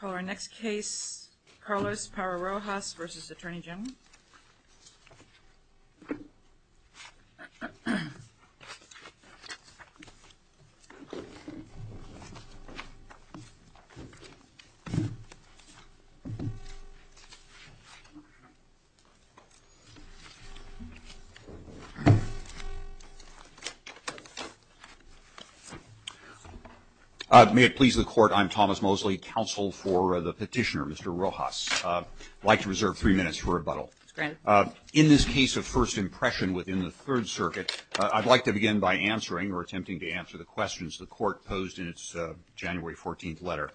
Call our next case, Carlos Parra-Rojas v. Atty. General. May it please the Court, I'm Thomas Mosley, counsel for the petitioner, Mr. Rojas. I'd like to reserve three minutes for rebuttal. In this case of first impression within the Third Circuit, I'd like to begin by answering or attempting to answer the questions the Court posed in its January 14th letter.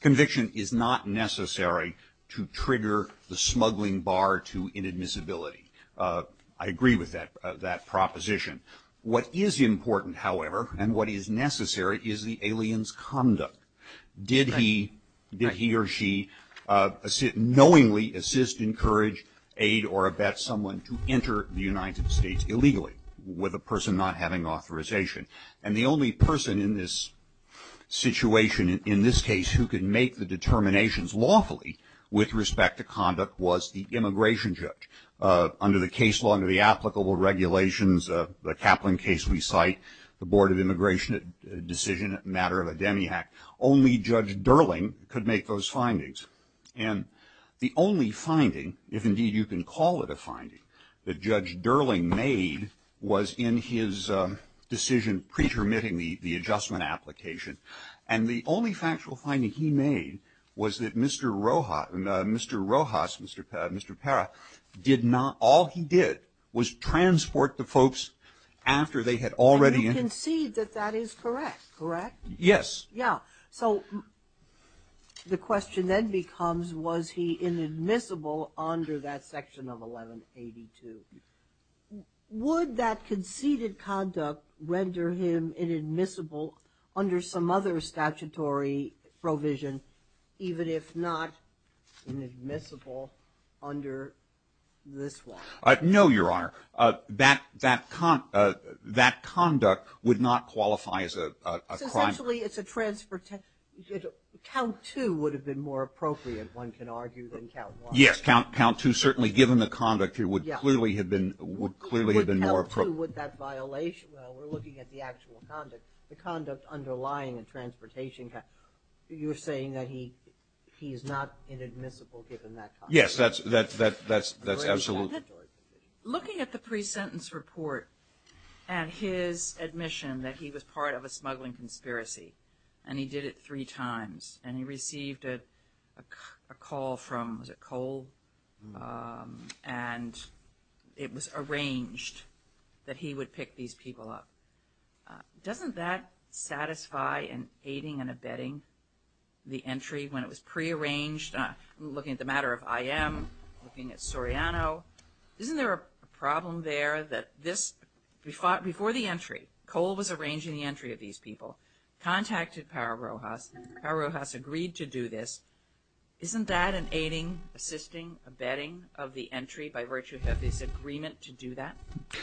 Conviction is not necessary to trigger the smuggling bar to inadmissibility. I agree with that proposition. What is important, however, and what is necessary, is the alien's unknowingly assist, encourage, aid, or abet someone to enter the United States illegally with a person not having authorization. And the only person in this situation, in this case, who could make the determinations lawfully with respect to conduct was the immigration judge. Under the case law and the applicable regulations, the Kaplan case we cite, the Board of Immigration decision, a matter of a demi-act, only Judge Durling could make those findings. And the only finding, if indeed you can call it a finding, that Judge Durling made was in his decision pre-termitting the adjustment application. And the only factual finding he made was that Mr. Rojas, Mr. Parra, did not all he did was transport the folks after they had already entered the United States. Sotomayor, you concede that that is correct, correct? Yes. Yeah. So the question then becomes, was he inadmissible under that section of 1182? Would that conceded conduct render him inadmissible under some other statutory provision, even if not inadmissible under this one? No, Your Honor. That conduct would not qualify as a crime. It's essentially, it's a transportation, count two would have been more appropriate, one can argue, than count one. Yes. Count two, certainly given the conduct, it would clearly have been more appropriate. Would count two, would that violation, well, we're looking at the actual conduct, the conduct underlying a transportation, you're saying that he's not inadmissible given that conduct? Yes. That's absolutely. Looking at the pre-sentence report and his admission that he was part of a smuggling conspiracy, and he did it three times, and he received a call from, was it Cole? And it was arranged that he would pick these people up. Doesn't that satisfy in aiding and abetting the entry when it was pre-arranged, looking at the matter of IM, looking at Soriano, isn't there a problem there that this, before the entry, Cole was arranging the entry of these people, contacted Power Rojas, Power Rojas agreed to do this. Isn't that an aiding, assisting, abetting of the entry by virtue of his agreement to do that?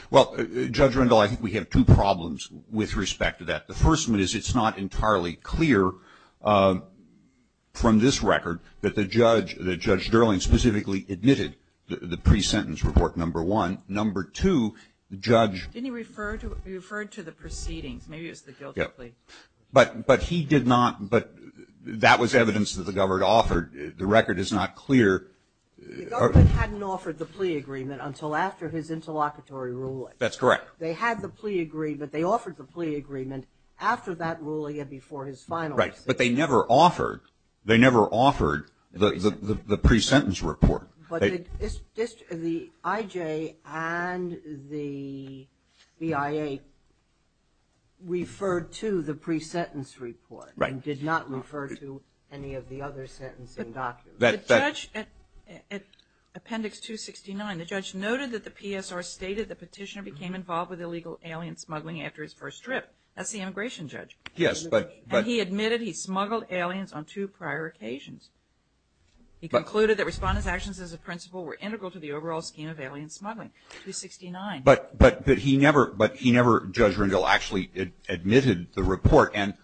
Well, Judge Rendell, I think we have two problems with respect to that. The first one is it's not entirely clear from this record that the judge, that Judge Dirling specifically admitted the pre-sentence report, number one. Number two, the judge Didn't he refer to the proceedings? Maybe it was the guilty plea. But he did not, but that was evidence that the government offered. The record is not clear. The government hadn't offered the plea agreement until after his interlocutory ruling. That's correct. They had the plea agreement. They offered the plea agreement after that ruling and before his final decision. Right, but they never offered, they never offered the pre-sentence report. But the IJ and the BIA referred to the pre-sentence report and did not refer to any of the other sentencing documents. But the judge, at appendix 269, the judge noted that the PSR stated the petitioner became involved with illegal alien smuggling after his first trip. That's the immigration judge. Yes, but And he admitted he smuggled aliens on two prior occasions. He concluded that respondent's actions as a principle were integral to the overall scheme of alien smuggling, 269. But he never, but he never, Judge Rendell, actually admitted the report. And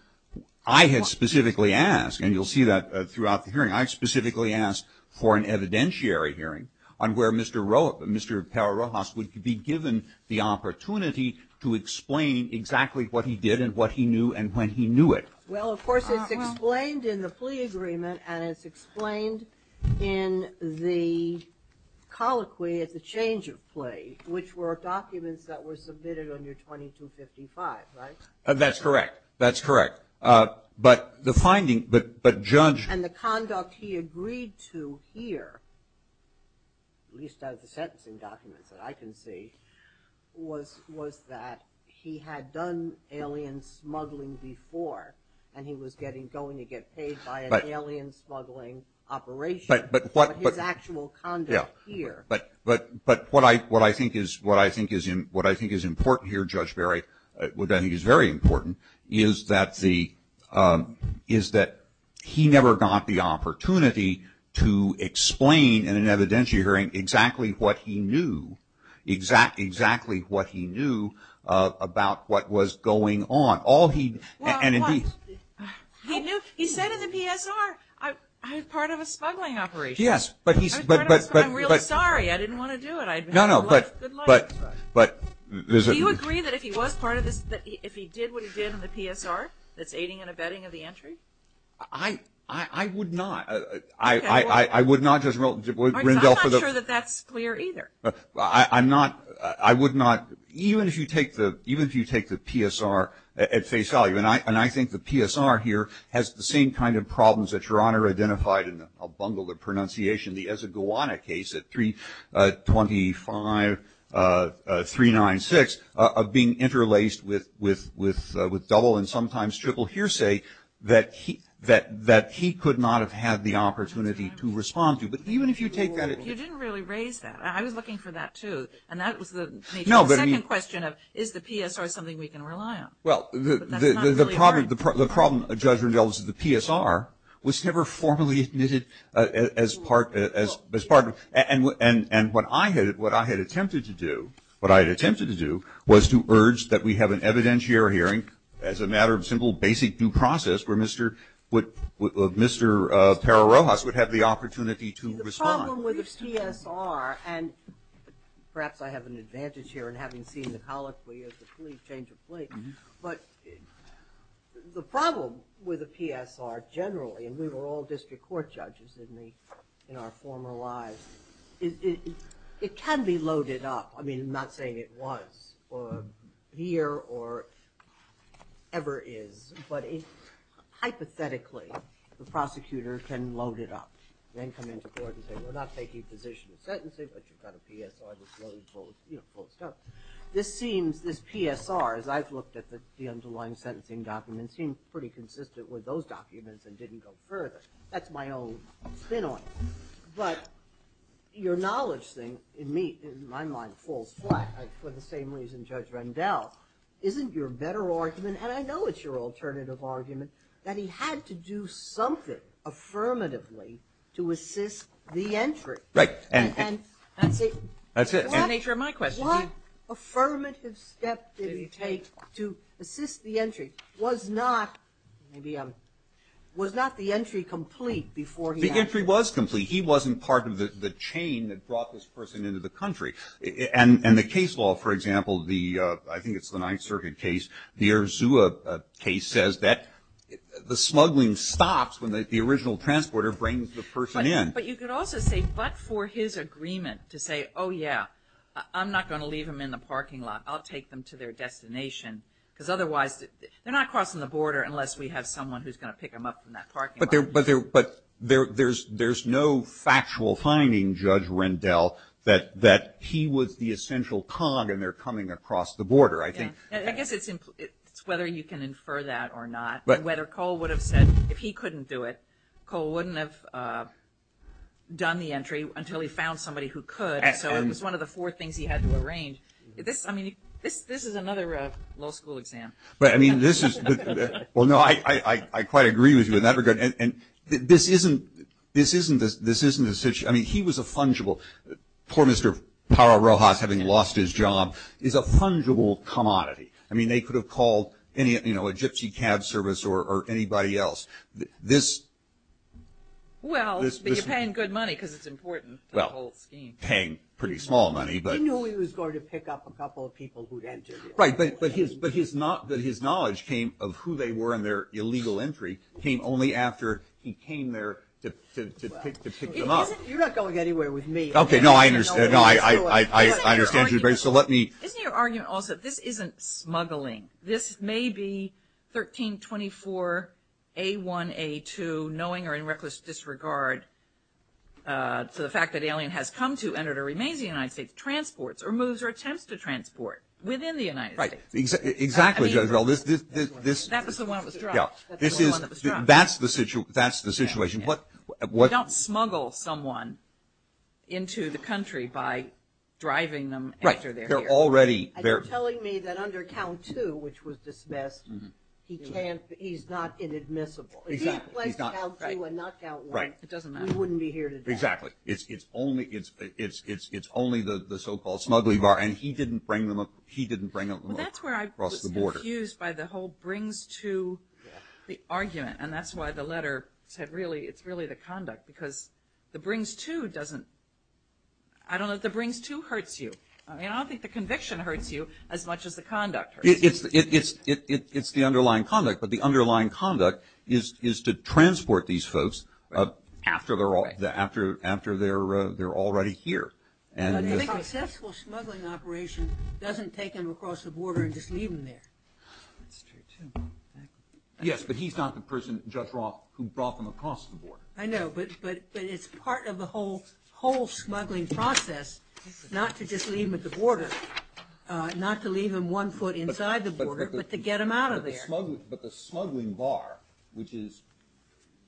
I had specifically asked, and you'll see that throughout the hearing, I specifically asked for an evidentiary hearing on where Mr. Rojas would be given the opportunity to explain exactly what he did and what he knew and when he knew it. Well, of course, it's explained in the plea agreement and it's explained in the colloquy at the change of plea, which were documents that were submitted under 2255, right? That's correct. That's correct. But the finding, but Judge And the conduct he agreed to here, at least out of the sentencing documents that I can see, was that he had done alien smuggling before and he was getting, going to get paid by an alien smuggling operation. But his actual conduct here But, but, but what I, what I think is, what I think is, what I think is important here, Judge Berry, what I think is very important, is that the, is that he never got the opportunity to explain in an evidentiary hearing exactly what he knew, exactly what he knew about what was going on. All he, and indeed He knew, he said in the PSR, I'm part of a smuggling operation. Yes, but he I'm real sorry. I didn't want to do it. I'd have a good life. No, no, but, but, but Do you agree that if he was part of this, that if he did what he did in the PSR, that's aiding and abetting of the entry? I, I, I would not. I, I, I would not, Judge Rendell I'm not sure that that's clear either. I'm not, I would not, even if you take the, even if you take the PSR at face value, and I, and I think the PSR here has the same kind of problems that Your Honor identified in a bungled pronunciation. The Ezeguana case at 325, 396 of being interlaced with, with, with, with double and sometimes triple hearsay that he, that, that he could not have had the opportunity to respond to. But even if you take that You didn't really raise that. I was looking for that too. And that was the No, but I mean The second question of, is the PSR something we can rely on? Well, the, the, the, the problem, the problem, Judge Rendell, is the PSR was never formally admitted as part, as, as part of and, and, and what I had, what I had attempted to do, what I had attempted to do was to urge that we have an evidentiary hearing as a matter of simple basic due process where Mr. would, Mr. Perro-Rojas would have the opportunity to respond. The problem with the PSR, and perhaps I have an advantage here in having seen the colloquy of the police, but the problem with the PSR generally, and we were all district court judges in the, in our former lives, it, it, it can be loaded up. I mean, I'm not saying it was or here or ever is, but hypothetically, the prosecutor can load it up, then come into court and say, we're not taking position of sentencing, but you've got a PSR that's loaded, you know, closed up. This seems, this PSR, as I've looked at the, the underlying sentencing documents, seems pretty consistent with those documents and didn't go further. That's my own spin on it. But your knowledge thing in me, in my mind, falls flat for the same reason Judge Rendell. Isn't your better argument, and I know it's your alternative argument, that he had to do something affirmatively to assist the entry. Right. And, and, and see. That's it. That's the nature of my question. What affirmative step did he take to assist the entry? Was not, maybe, was not the entry complete before he. The entry was complete. He wasn't part of the, the chain that brought this person into the country. And, and the case law, for example, the, I think it's the Ninth Circuit case, the Erzsua case says that the smuggling stops when the, the original transporter brings the person in. But you could also say, but for his agreement to say, oh yeah, I'm not going to leave him in the parking lot. I'll take them to their destination. Because otherwise, they're not crossing the border unless we have someone who's going to pick them up from that parking lot. But there, but there, there's, there's no factual finding, Judge Rendell, that, that he was the essential cog and they're coming across the border, I think. I guess it's, it's whether you can infer that or not. Whether Cole would have said, if he couldn't do it, Cole wouldn't have done the entry until he found somebody who could. And, and. So it was one of the four things he had to arrange. This, I mean, this, this is another law school exam. But I mean, this is, well, no, I, I, I quite agree with you in that regard. And, and this isn't, this isn't the, this isn't the situation. I mean, he was a fungible, poor Mr. Parra-Rojas having lost his job, is a fungible commodity. I mean, they could have called any, you know, a gypsy cab service or, or anybody else. This, this, this. Well, but you're paying good money because it's important to the whole scheme. Well, paying pretty small money, but. He knew he was going to pick up a couple of people who'd entered. Right, but, but his, but his not, that his knowledge came of who they were and their illegal entry came only after he came there to, to, to pick, to pick them up. You're not going anywhere with me. Okay, no, I understand. No, I, I, I, I understand you very, so let me. Isn't your argument also, this isn't smuggling. This may be 1324, A1, A2, knowing or in reckless disregard to the fact that alien has come to and or remains in the United States, transports or moves or attempts to transport within the United States. Right, exactly, exactly. I mean. Well, this, this, this. That was the one that was dropped. Yeah, this is. That's the one that was dropped. That's the situation, that's the situation. Yeah, yeah. What, what. You don't smuggle someone into the country by driving them after they're here. Right, they're already, they're. You're telling me that under count two, which was dismissed. Mm-hm. He can't, he's not inadmissible. Exactly, he's not. If he had placed count two and not count one. Right. It doesn't matter. He wouldn't be here today. Exactly. It's, it's only, it's, it's, it's, it's only the, the so-called smuggling bar. And he didn't bring them, he didn't bring them across the border. Well, that's where I was confused by the whole brings to the argument. And that's why the letter said really, it's really the conduct. Because the brings to doesn't, I don't know if the brings to hurts you. I mean, I don't think the conviction hurts you as much as the conduct hurts you. It's, it's, it's, it's, it's the underlying conduct. But the underlying conduct is, is to transport these folks. Right. After they're all, after, after they're, they're already here. And. The successful smuggling operation doesn't take them across the border and just leave them there. That's true too. Yes, but he's not the person, Judge Roth, who brought them across the border. I know, but, but, but it's part of the whole, whole smuggling process. Not to just leave them at the border. Not to leave them one foot inside the border, but to get them out of there. But the smuggling, but the smuggling bar, which is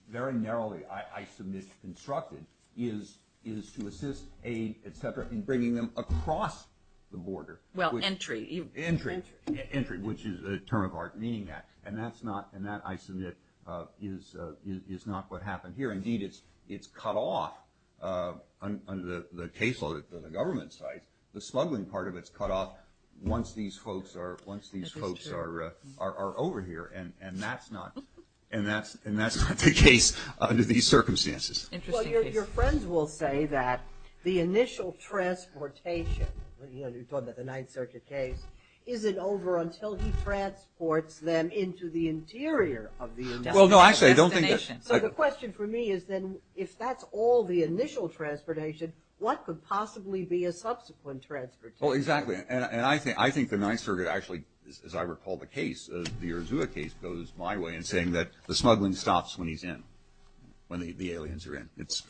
very narrowly, I submit, constructed, is, is to assist, aid, et cetera, in bringing them across the border. Well, entry. Entry. Entry, which is a term of art meaning that. And that's not, and that, I submit, is, is not what happened here. Indeed, it's, it's cut off under the, the caseload of the government sites. The smuggling part of it's cut off once these folks are, once these folks are, are, are over here. And, and that's not, and that's, and that's not the case under these circumstances. Interesting case. Well, your, your friends will say that the initial transportation, you know, you're talking about the Ninth Circuit case, isn't over until he transports them into the interior of the destination. Well, no, actually I don't think that. So the question for me is then if that's all the initial transportation, what could possibly be a subsequent transportation? Well, exactly. And, and I think, I think the Ninth Circuit actually, as I recall the case, the Uruzua case, goes my way in saying that the smuggling stops when he's in, when the, the aliens are in. It's,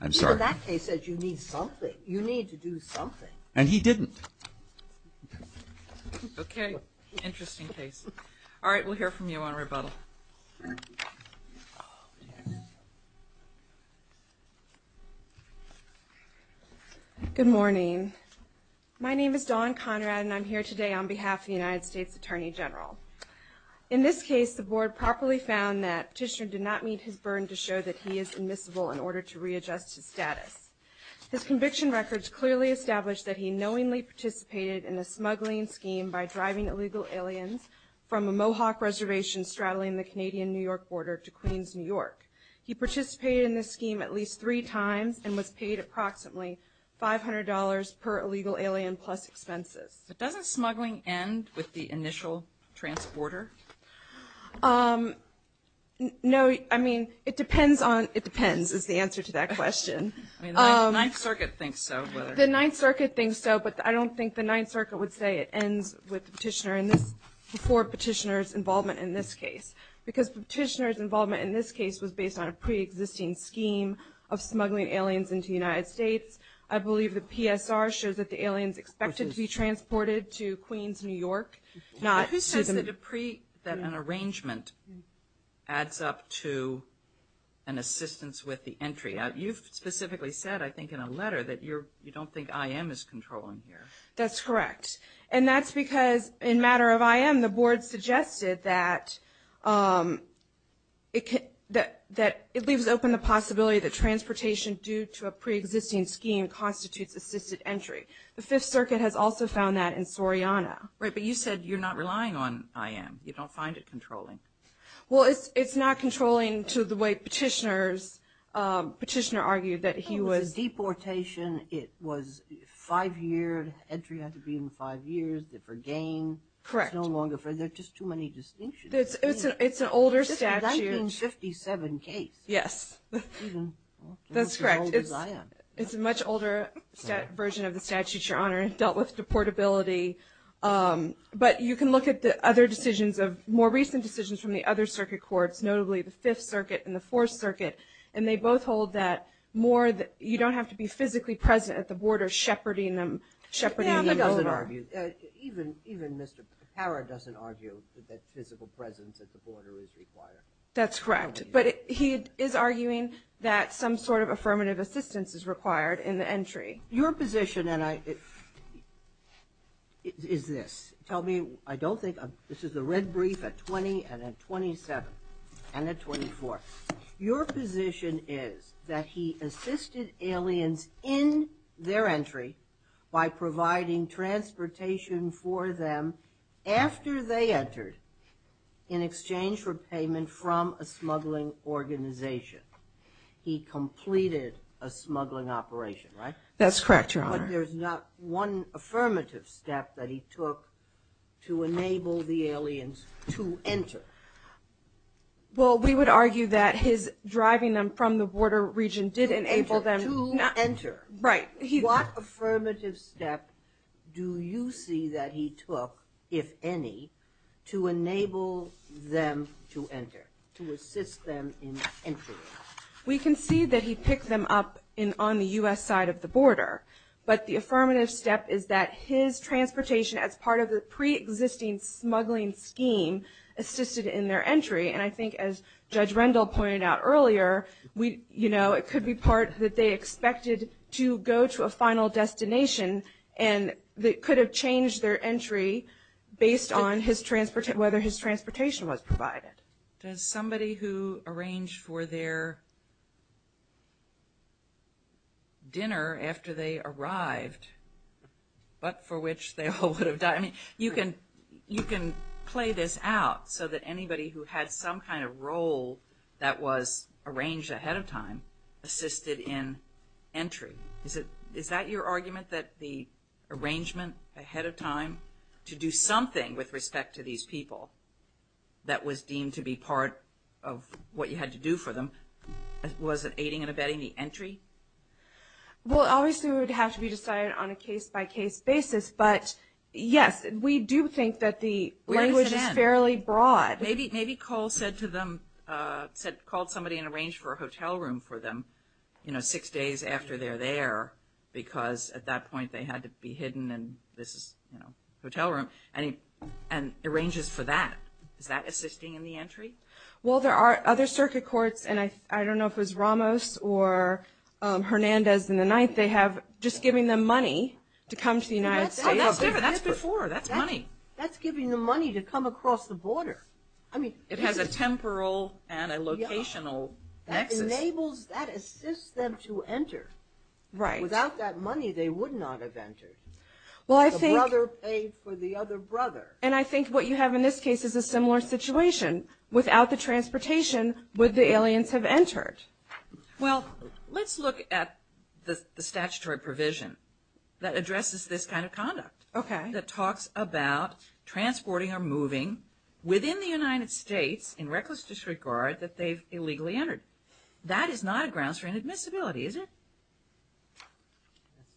I'm sorry. Well, that case says you need something. You need to do something. And he didn't. Okay. Interesting case. All right. We'll hear from you on rebuttal. Yes. Good morning. My name is Dawn Conrad and I'm here today on behalf of the United States Attorney General. In this case, the board properly found that Petitioner did not meet his burden to show that he is admissible in order to readjust his status. His conviction records clearly establish that he knowingly participated in the smuggling scheme by driving illegal aliens from a Mohawk reservation straddling the Canadian New York border to Queens, New York. He participated in this scheme at least three times and was paid approximately $500 per illegal alien plus expenses. But doesn't smuggling end with the initial transporter? No, I mean, it depends on, it depends is the answer to that question. I mean, the Ninth Circuit thinks so. The Ninth Circuit thinks so, but I don't think the Ninth Circuit would say it ends with Petitioner in this, before Petitioner's involvement in this case. Because Petitioner's involvement in this case was based on a preexisting scheme of smuggling aliens into the United States. I believe the PSR shows that the aliens expected to be transported to Queens, New York. Who says that an arrangement adds up to an assistance with the entry? You've specifically said, I think in a letter, that you don't think IM is controlling here. That's correct. And that's because in matter of IM, the board suggested that it leaves open the possibility that transportation due to a preexisting scheme constitutes assisted entry. The Fifth Circuit has also found that in Soriana. Right, but you said you're not relying on IM. You don't find it controlling. Well, it's not controlling to the way Petitioner argued that he was. Deportation, it was five year, entry had to be in five years for gain. Correct. There's just too many distinctions. It's an older statute. It's a 1957 case. Yes, that's correct. It's as old as I am. It's a much older version of the statute, Your Honor. It dealt with deportability. But you can look at the other decisions, more recent decisions from the other circuit courts, notably the Fifth Circuit and the Fourth Circuit. And they both hold that more that you don't have to be physically present at the border, shepherding them over. Yeah, but he doesn't argue. Even Mr. Parra doesn't argue that physical presence at the border is required. That's correct. But he is arguing that some sort of affirmative assistance is required in the entry. Your position is this. Tell me, I don't think, this is the red brief at 20 and at 27 and at 24. Your position is that he assisted aliens in their entry by providing transportation for them after they entered in exchange for payment from a smuggling organization. He completed a smuggling operation, right? That's correct, Your Honor. But there's not one affirmative step that he took to enable the aliens to enter. Well, we would argue that his driving them from the border region did enable them. To enter. Right. What affirmative step do you see that he took, if any, to enable them to enter, to assist them in entry? We can see that he picked them up on the U.S. side of the border. But the affirmative step is that his transportation as part of the preexisting smuggling scheme assisted in their entry. And I think as Judge Rendell pointed out earlier, you know, it could be part that they expected to go to a final destination and that could have changed their entry based on whether his transportation was provided. Does somebody who arranged for their dinner after they arrived, but for which they all would have died, you can play this out so that anybody who had some kind of role that was arranged ahead of time assisted in entry. Is that your argument, that the arrangement ahead of time to do something with respect to these people that was deemed to be part of what you had to do for them, was it aiding and abetting the entry? Well, obviously it would have to be decided on a case-by-case basis. But yes, we do think that the language is fairly broad. Maybe Cole called somebody and arranged for a hotel room for them, you know, six days after they're there because at that point they had to be hidden and this is, you know, a hotel room, and arranges for that. Is that assisting in the entry? Well, there are other circuit courts, and I don't know if it was Ramos or Hernandez in the 9th, just giving them money to come to the United States. Oh, that's different, that's before, that's money. That's giving them money to come across the border. It has a temporal and a locational nexus. That enables, that assists them to enter. Right. Without that money they would not have entered. Well, I think... The brother paid for the other brother. And I think what you have in this case is a similar situation. Without the transportation, would the aliens have entered? Well, let's look at the statutory provision that addresses this kind of conduct. Okay. That talks about transporting or moving within the United States in reckless disregard that they've illegally entered. That is not a grounds for inadmissibility, is it?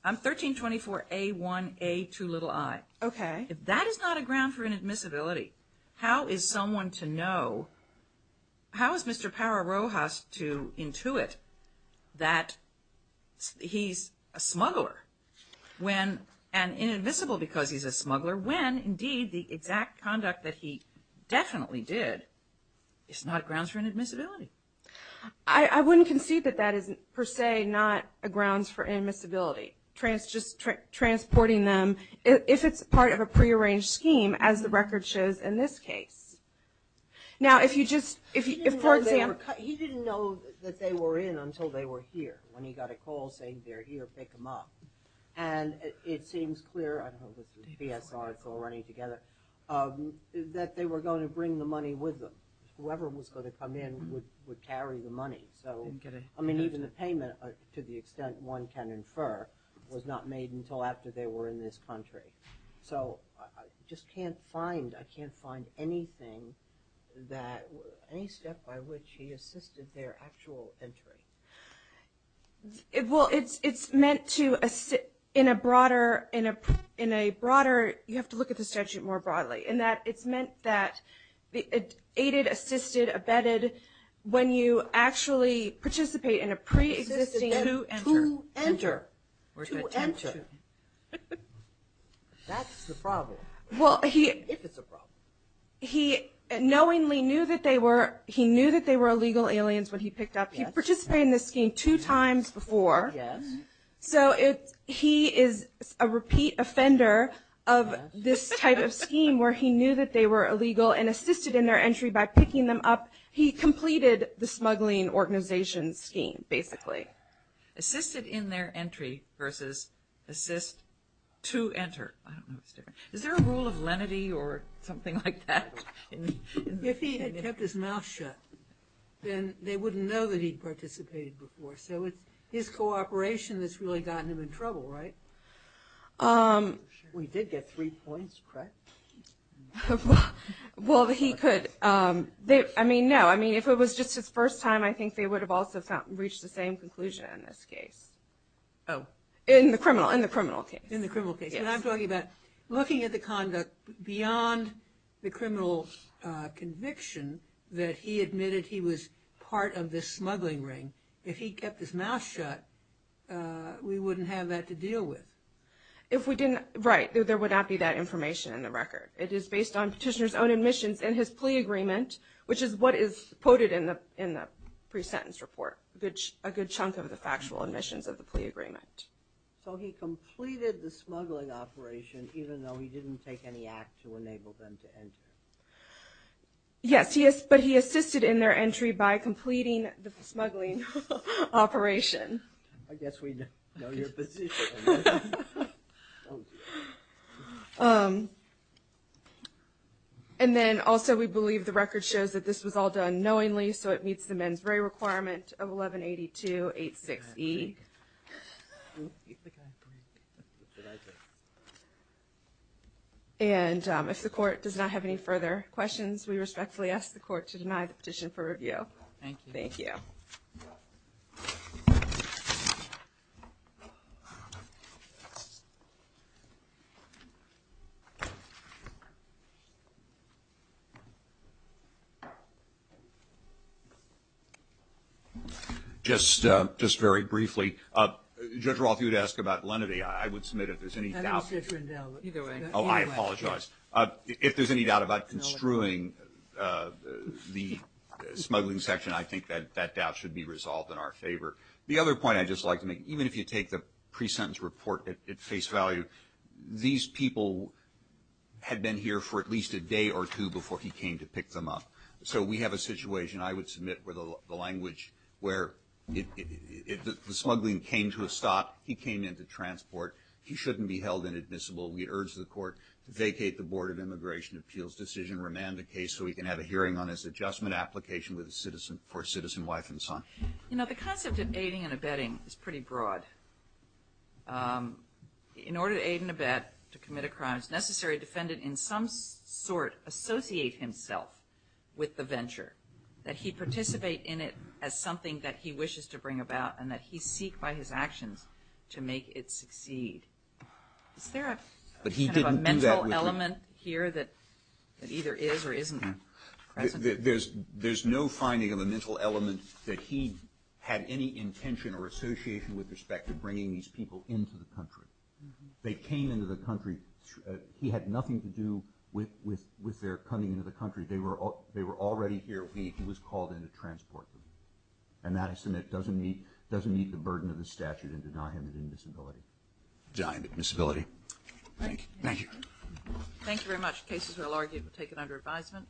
I'm 1324A1A2i. Okay. That is not a ground for inadmissibility. How is someone to know, how is Mr. Parra-Rojas to intuit that he's a smuggler when, and invisible because he's a smuggler, when indeed the exact conduct that he definitely did is not grounds for inadmissibility? I wouldn't concede that that is per se not a grounds for inadmissibility. Just transporting them, if it's part of a prearranged scheme, as the record shows in this case. Now, if you just, for example... He didn't know that they were in until they were here, when he got a call saying they're here, pick them up. And it seems clear, I don't know if this is a PS article or anything, that they were going to bring the money with them. Whoever was going to come in would carry the money. I mean, even the payment, to the extent one can infer, was not made until after they were in this country. So, I just can't find, I can't find anything that, any step by which he assisted their actual entry. Well, it's meant to, in a broader, in a broader, you have to look at the statute more broadly, in that it's meant that, aided, assisted, abetted, when you actually participate in a pre-existing... That's the problem. Well, he... If it's a problem. He knowingly knew that they were, he knew that they were illegal aliens when he picked up. He participated in this scheme two times before. So, he is a repeat offender of this type of scheme, where he knew that they were illegal, and assisted in their entry by picking them up. He completed the smuggling organization scheme, basically. Assisted in their entry versus assist to enter. Is there a rule of lenity or something like that? If he had kept his mouth shut, then they wouldn't know that he participated before. So, it's his cooperation that's really gotten him in trouble, right? We did get three points, correct? Well, he could, I mean, no. I mean, if it was just his first time, I think they would have also reached the same conclusion in this case. Oh. In the criminal case. In the criminal case. And I'm talking about looking at the conduct beyond the criminal conviction that he admitted he was part of this smuggling ring. If he kept his mouth shut, we wouldn't have that to deal with. If we didn't, right. There would not be that information in the record. It is based on petitioner's own admissions and his plea agreement, which is what is quoted in the pre-sentence report. A good chunk of the factual admissions of the plea agreement. So, he completed the smuggling operation even though he didn't take any act to enable them to enter? Yes, but he assisted in their entry by completing the smuggling operation. I guess we know your position. Thank you. And then, also, we believe the record shows that this was all done knowingly, so it meets the mens rea requirement of 1182.86e. And if the court does not have any further questions, we respectfully ask the court to deny the petition for review. Thank you. Thank you. Thank you. Just very briefly, Judge Roth, if you would ask about lenity, I would submit if there's any doubt. Oh, I apologize. If there's any doubt about construing the smuggling section, I think that that doubt should be resolved in our favor. The other point I'd just like to make, even if you take the pre-sentence report at face value, these people had been here for at least a day or two before he came to pick them up. So, we have a situation, I would submit, where the language where the smuggling came to a stop, he came into transport, he shouldn't be held inadmissible. We urge the court to vacate the Board of Immigration Appeals decision, remand the case, so we can have a hearing on his adjustment application for a citizen wife and son. You know, the concept of aiding and abetting is pretty broad. In order to aid and abet, to commit a crime, it's necessary a defendant in some sort associate himself with the venture, that he participate in it as something that he wishes to bring about and that he seek by his actions to make it succeed. Is there a kind of a mental element here that either is or isn't present? There's no finding of a mental element that he had any intention or association with respect to bringing these people into the country. They came into the country, he had nothing to do with their coming into the country. They were already here, he was called in to transport them. And that, I submit, doesn't meet the burden of the statute and deny him an admissibility. Deny him admissibility. Thank you. Thank you very much. Cases will be taken under advisement.